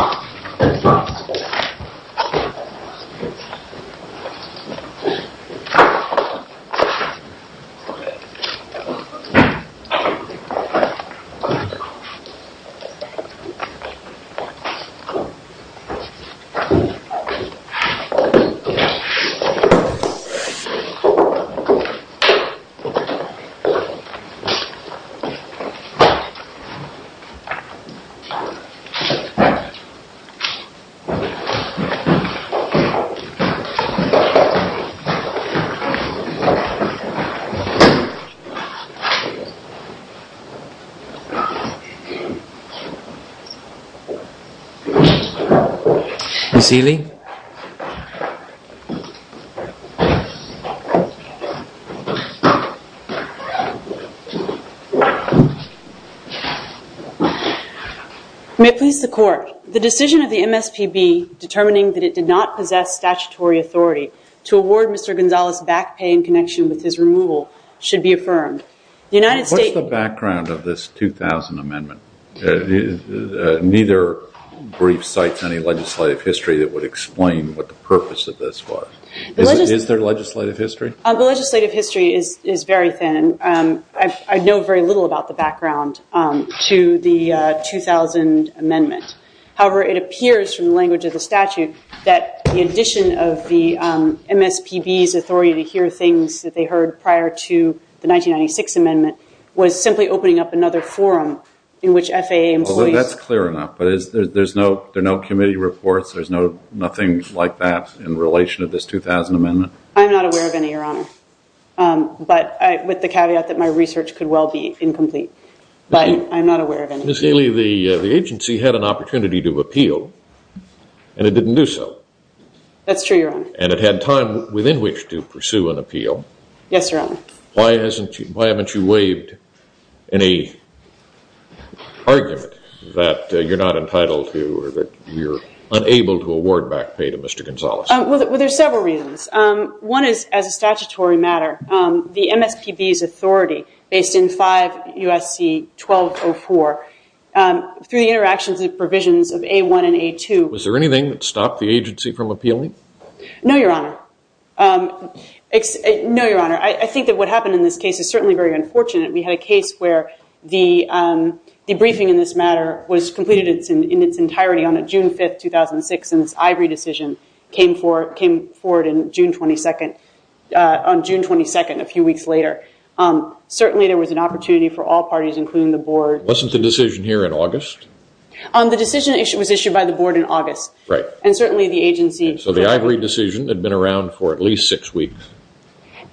Shuffling Shuffling Shuffling Shuffling Shuffling You see anything? Shuffling May it please the court, the decision of the MSPB determining that it did not possess statutory authority to award Mr. Gonzales back pay in connection with his removal should be affirmed. What's the background of this 2000 amendment? Neither brief cites any legislative history that would explain what the purpose of this was. Is there legislative history? The legislative history is very thin. I know very little about the background to the 2000 amendment. However, it appears from the language of the statute that the addition of the MSPB's authority to hear things that they heard prior to the 1996 amendment was simply opening up another forum in which FAA employees... That's clear enough, but there's no committee reports? There's nothing like that in relation to this 2000 amendment? I'm not aware of any, Your Honor. But with the caveat that my research could well be incomplete. But I'm not aware of any. Ms. Haley, the agency had an opportunity to appeal, and it didn't do so. That's true, Your Honor. And it had time within which to pursue an appeal. Yes, Your Honor. Why haven't you waived any argument that you're not entitled to or that you're unable to award back pay to Mr. Gonzales? Well, there's several reasons. One is, as a statutory matter, the MSPB's authority based in 5 U.S.C. 1204 through the interactions and provisions of A1 and A2... Was there anything that stopped the agency from appealing? No, Your Honor. No, Your Honor. I think that what happened in this case is certainly very unfortunate. We had a case where the debriefing in this matter was completed in its entirety on June 5, 2006, and this Ivory decision came forward on June 22, a few weeks later. Certainly, there was an opportunity for all parties, including the board. Wasn't the decision here in August? The decision was issued by the board in August. Right. And certainly, the agency... So the Ivory decision had been around for at least six weeks.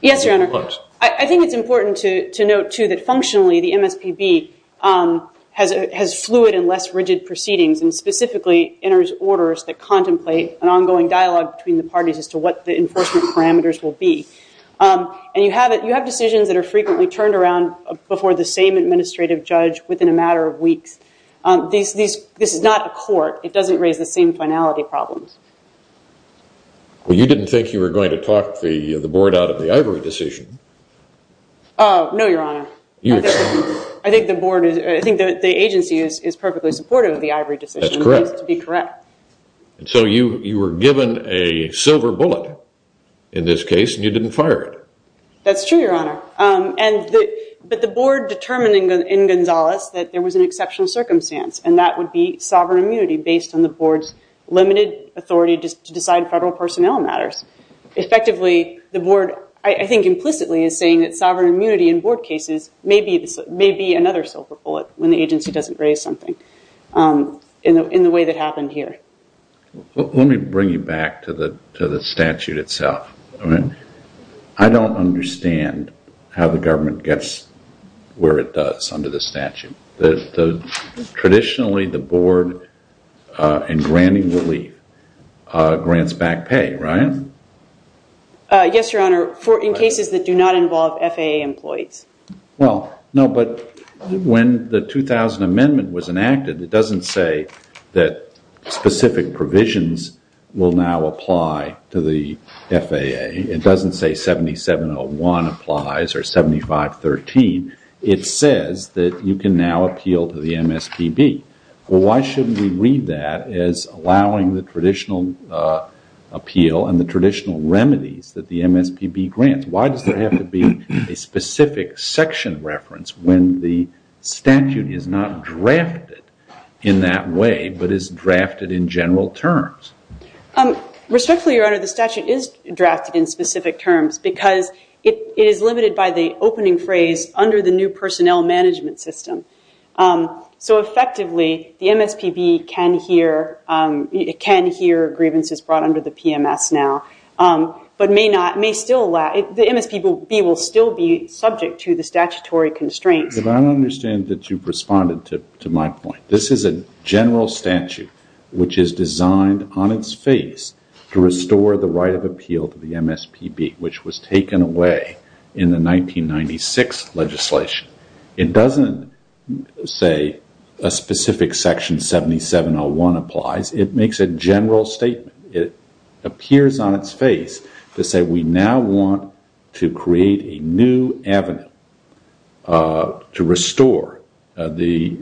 Yes, Your Honor. I think it's important to note, too, that, functionally, the MSPB has fluid and less rigid proceedings and specifically enters orders that contemplate an ongoing dialogue between the parties as to what the enforcement parameters will be. And you have decisions that are frequently turned around before the same administrative judge within a matter of weeks. This is not a court. It doesn't raise the same finality problems. Well, you didn't think you were going to talk the board out of the Ivory decision. No, Your Honor. I think the agency is perfectly supportive of the Ivory decision. That's correct. It needs to be correct. So you were given a silver bullet in this case, and you didn't fire it. That's true, Your Honor. But the board determined in Gonzales that there was an exceptional circumstance, and that would be sovereign immunity based on the board's limited authority to decide federal personnel matters. Effectively, the board, I think implicitly, is saying that sovereign immunity in board cases may be another silver bullet when the agency doesn't raise something in the way that happened here. Let me bring you back to the statute itself. I don't understand how the government gets where it does under the statute. Traditionally, the board, in granting relief, grants back pay, right? Yes, Your Honor, in cases that do not involve FAA employees. Well, no, but when the 2000 Amendment was enacted, it doesn't say that specific provisions will now apply to the FAA. It doesn't say 7701 applies or 7513. It says that you can now appeal to the MSPB. Well, why shouldn't we read that as allowing the traditional appeal and the traditional remedies that the MSPB grants? Why does there have to be a specific section reference when the statute is not drafted in that way, but is drafted in general terms? Respectfully, Your Honor, the statute is drafted in specific terms because it is limited by the opening phrase, under the new personnel management system. So effectively, the MSPB can hear grievances brought under the PMS now, but the MSPB will still be subject to the statutory constraints. But I don't understand that you've responded to my point. This is a general statute which is designed on its face to restore the right of appeal to the MSPB, which was taken away in the 1996 legislation. It doesn't say a specific section 7701 applies. It makes a general statement. It appears on its face to say we now want to create a new avenue to restore the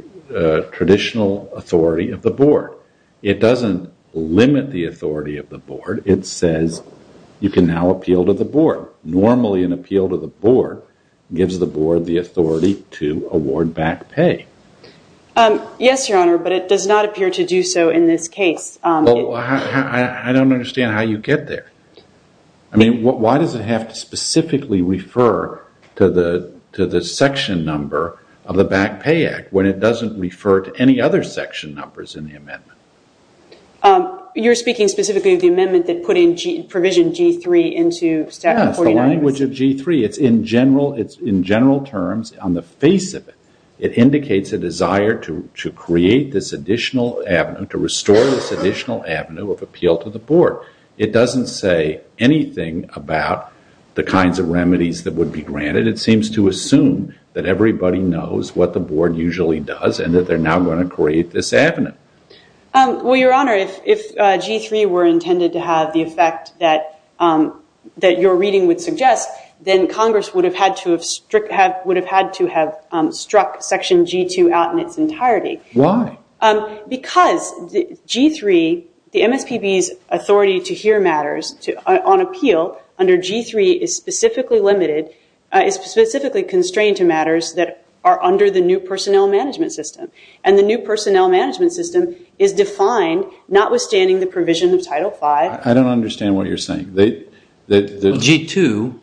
traditional authority of the board. It doesn't limit the authority of the board. It says you can now appeal to the board. Normally, an appeal to the board gives the board the authority to award back pay. Yes, Your Honor, but it does not appear to do so in this case. I don't understand how you get there. I mean, why does it have to specifically refer to the section number of the Back Pay Act when it doesn't refer to any other section numbers in the amendment? You're speaking specifically of the amendment that put in provision G3 into Statute 49. Yes, the language of G3. It's in general terms on the face of it. It indicates a desire to restore this additional avenue of appeal to the board. It doesn't say anything about the kinds of remedies that would be granted. It seems to assume that everybody knows what the board usually does and that they're now going to create this avenue. Well, Your Honor, if G3 were intended to have the effect that your reading would suggest, then Congress would have had to have struck Section G2 out in its entirety. Why? Because G3, the MSPB's authority to hear matters on appeal under G3, is specifically constrained to matters that are under the new personnel management system, and the new personnel management system is defined notwithstanding the provision of Title 5. I don't understand what you're saying. G2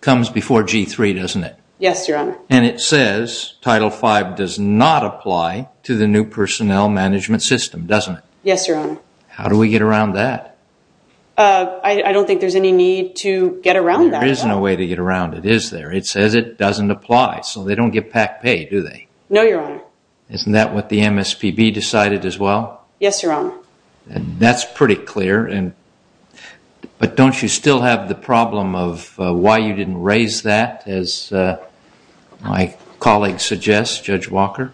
comes before G3, doesn't it? Yes, Your Honor. And it says Title 5 does not apply to the new personnel management system, doesn't it? Yes, Your Honor. How do we get around that? I don't think there's any need to get around that. There is no way to get around it, is there? It says it doesn't apply, so they don't get PAC pay, do they? No, Your Honor. Isn't that what the MSPB decided as well? Yes, Your Honor. That's pretty clear, but don't you still have the problem of why you didn't raise that, as my colleague suggests, Judge Walker?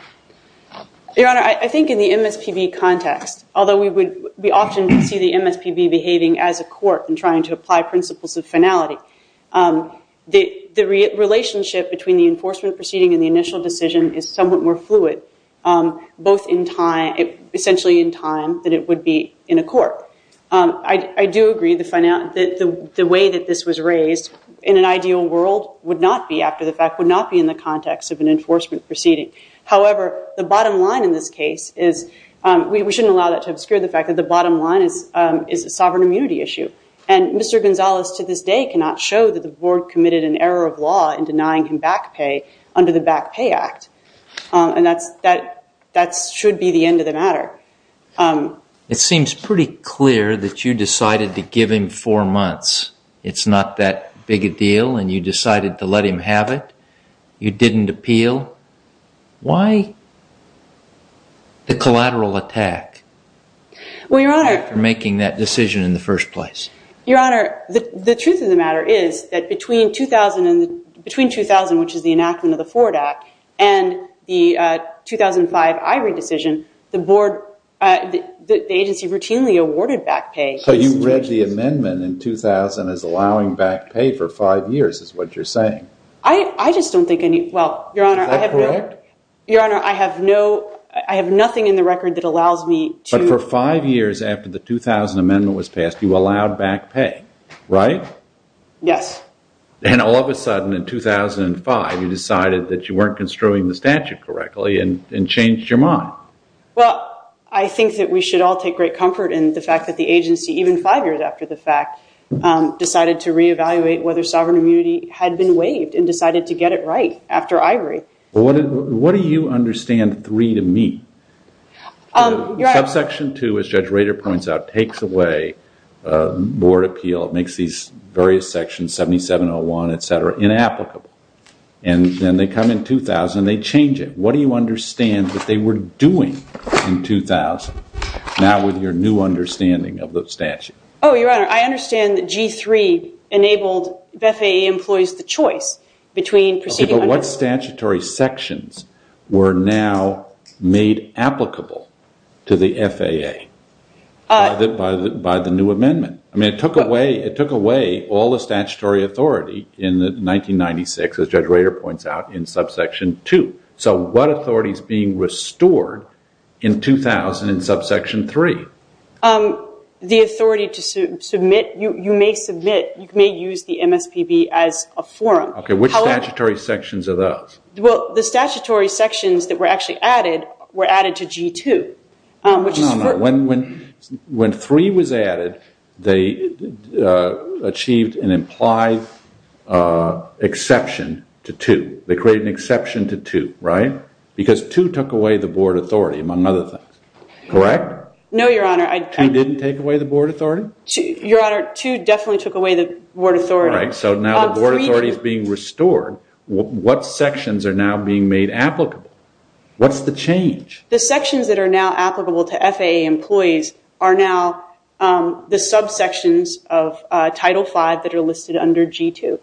Your Honor, I think in the MSPB context, although we would be often to see the MSPB behaving as a court and trying to apply principles of finality, the relationship between the enforcement proceeding and the initial decision is somewhat more fluid, both essentially in time that it would be in a court. I do agree that the way that this was raised, in an ideal world, would not be in the context of an enforcement proceeding. However, the bottom line in this case is we shouldn't allow that to obscure the fact that the bottom line is a sovereign immunity issue. And Mr. Gonzalez to this day cannot show that the Board committed an error of law in denying him back pay under the Back Pay Act. And that should be the end of the matter. It seems pretty clear that you decided to give him four months. It's not that big a deal, and you decided to let him have it. You didn't appeal. Why the collateral attack after making that decision in the first place? Your Honor, the truth of the matter is that between 2000, which is the enactment of the Ford Act, and the 2005 Ivory decision, the agency routinely awarded back pay. So you read the amendment in 2000 as allowing back pay for five years is what you're saying. I just don't think any... Is that correct? Your Honor, I have nothing in the record that allows me to... But for five years after the 2000 amendment was passed, you allowed back pay, right? Yes. And all of a sudden in 2005 you decided that you weren't construing the statute correctly and changed your mind. Well, I think that we should all take great comfort in the fact that the agency, even five years after the fact, decided to reevaluate whether sovereign immunity had been waived and decided to get it right after Ivory. What do you understand three to mean? Subsection 2, as Judge Rader points out, takes away board appeal. It makes these various sections, 7701, et cetera, inapplicable. And then they come in 2000 and they change it. What do you understand that they were doing in 2000, now with your new understanding of the statute? Oh, Your Honor, I understand that G3 enabled FAA employees the choice between... But what statutory sections were now made applicable to the FAA by the new amendment? I mean, it took away all the statutory authority in 1996, as Judge Rader points out, in subsection 2. So what authority is being restored in 2000 in subsection 3? The authority to submit. You may submit. You may use the MSPB as a forum. Okay, which statutory sections are those? Well, the statutory sections that were actually added were added to G2. When 3 was added, they achieved an implied exception to 2. They created an exception to 2, right? Because 2 took away the board authority, among other things. Correct? No, Your Honor. 2 didn't take away the board authority? Your Honor, 2 definitely took away the board authority. Right, so now the board authority is being restored. What sections are now being made applicable? What's the change? The sections that are now applicable to FAA employees are now the subsections of Title 5 that are listed under G2.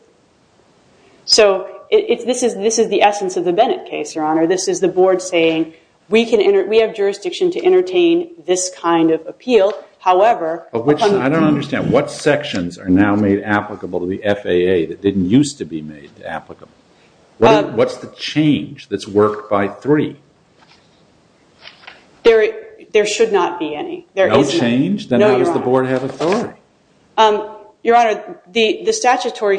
So this is the essence of the Bennett case, Your Honor. This is the board saying, we have jurisdiction to entertain this kind of appeal. I don't understand. What sections are now made applicable to the FAA that didn't used to be made applicable? What's the change that's worked by 3? There should not be any. No change? Then how does the board have authority? Your Honor, the statutory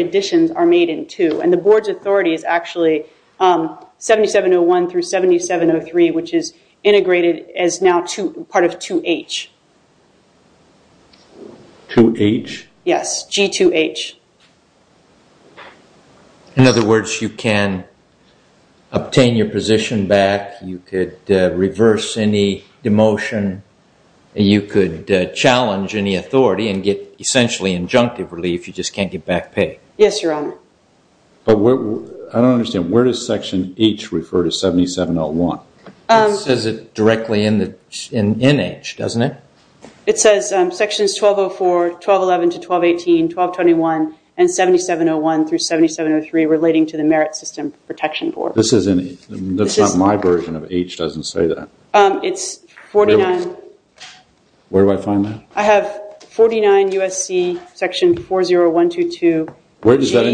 additions are made in 2, and the board's authority is actually 7701 through 7703, which is integrated as now part of 2H. 2H? Yes, G2H. In other words, you can obtain your position back. You could reverse any demotion. You could challenge any authority and get essentially injunctive relief. You just can't get back pay. Yes, Your Honor. I don't understand. Where does Section H refer to 7701? It says it directly in H, doesn't it? It says Sections 1204, 1211 to 1218, 1221, and 7701 through 7703 relating to the Merit System Protection Board. That's not my version of H. It doesn't say that. It's 49. Where do I find that? I have 49 USC Section 40122. Is that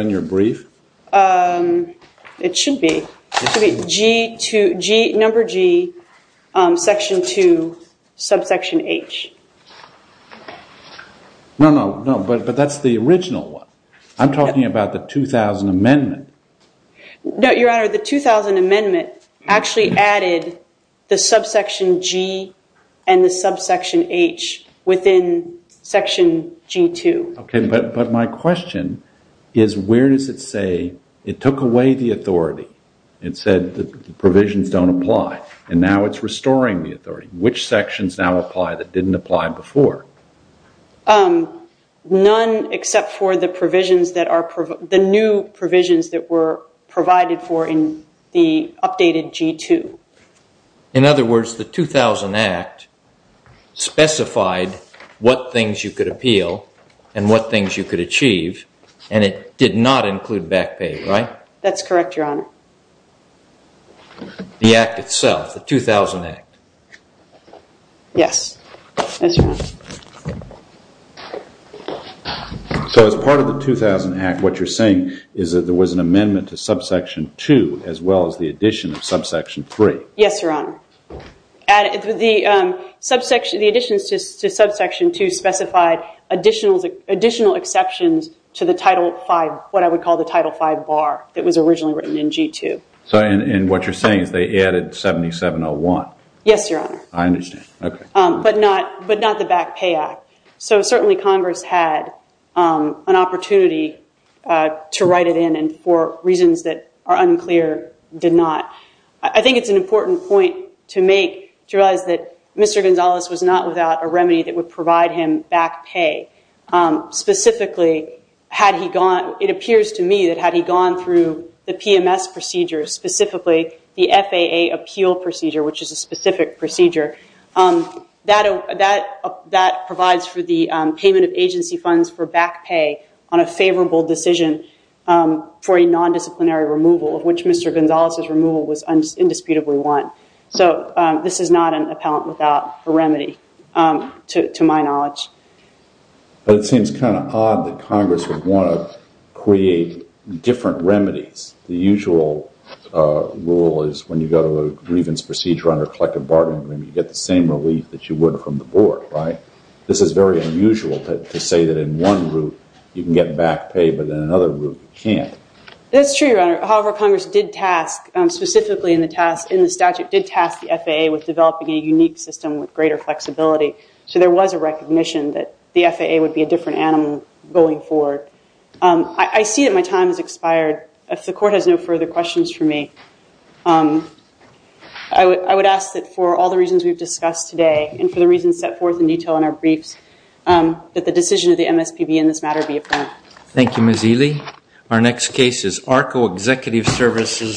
in your brief? It should be. Number G, Section 2, subsection H. No, no, no, but that's the original one. I'm talking about the 2000 amendment. No, Your Honor, the 2000 amendment actually added the subsection G and the subsection H within Section G2. Okay, but my question is where does it say it took away the authority and said the provisions don't apply and now it's restoring the authority? Which sections now apply that didn't apply before? None except for the new provisions that were provided for in the updated G2. In other words, the 2000 Act specified what things you could appeal and what things you could achieve, and it did not include back pay, right? That's correct, Your Honor. The Act itself, the 2000 Act? Yes, that's right. So as part of the 2000 Act, what you're saying is that there was an amendment to subsection 2 as well as the addition of subsection 3? Yes, Your Honor. The additions to subsection 2 specified additional exceptions to the Title 5, what I would call the Title 5 bar that was originally written in G2. And what you're saying is they added 7701? Yes, Your Honor. I understand, okay. But not the back pay act. So certainly Congress had an opportunity to write it in and for reasons that are unclear, did not. I think it's an important point to make to realize that Mr. Gonzalez was not without a remedy that would provide him back pay. Specifically, it appears to me that had he gone through the PMS procedures, specifically the FAA appeal procedure, which is a specific procedure, that provides for the payment of agency funds for back pay on a favorable decision for a nondisciplinary removal, of which Mr. Gonzalez's removal was indisputably won. So this is not an appellant without a remedy, to my knowledge. But it seems kind of odd that Congress would want to create different remedies. The usual rule is when you go to a grievance procedure under a collective bargaining agreement, you get the same relief that you would from the board. This is very unusual to say that in one group you can get back pay, but in another group you can't. That's true, Your Honor. However, Congress did task, specifically in the statute, did task the FAA with developing a unique system with greater flexibility. So there was a recognition that the FAA would be a different animal going forward. I see that my time has expired. If the Court has no further questions for me, I would ask that for all the reasons we've discussed today and for the reasons set forth in detail in our briefs, that the decision of the MSPB in this matter be affirmed. Thank you, Ms. Ely. Our next case is ARCO Executive Services.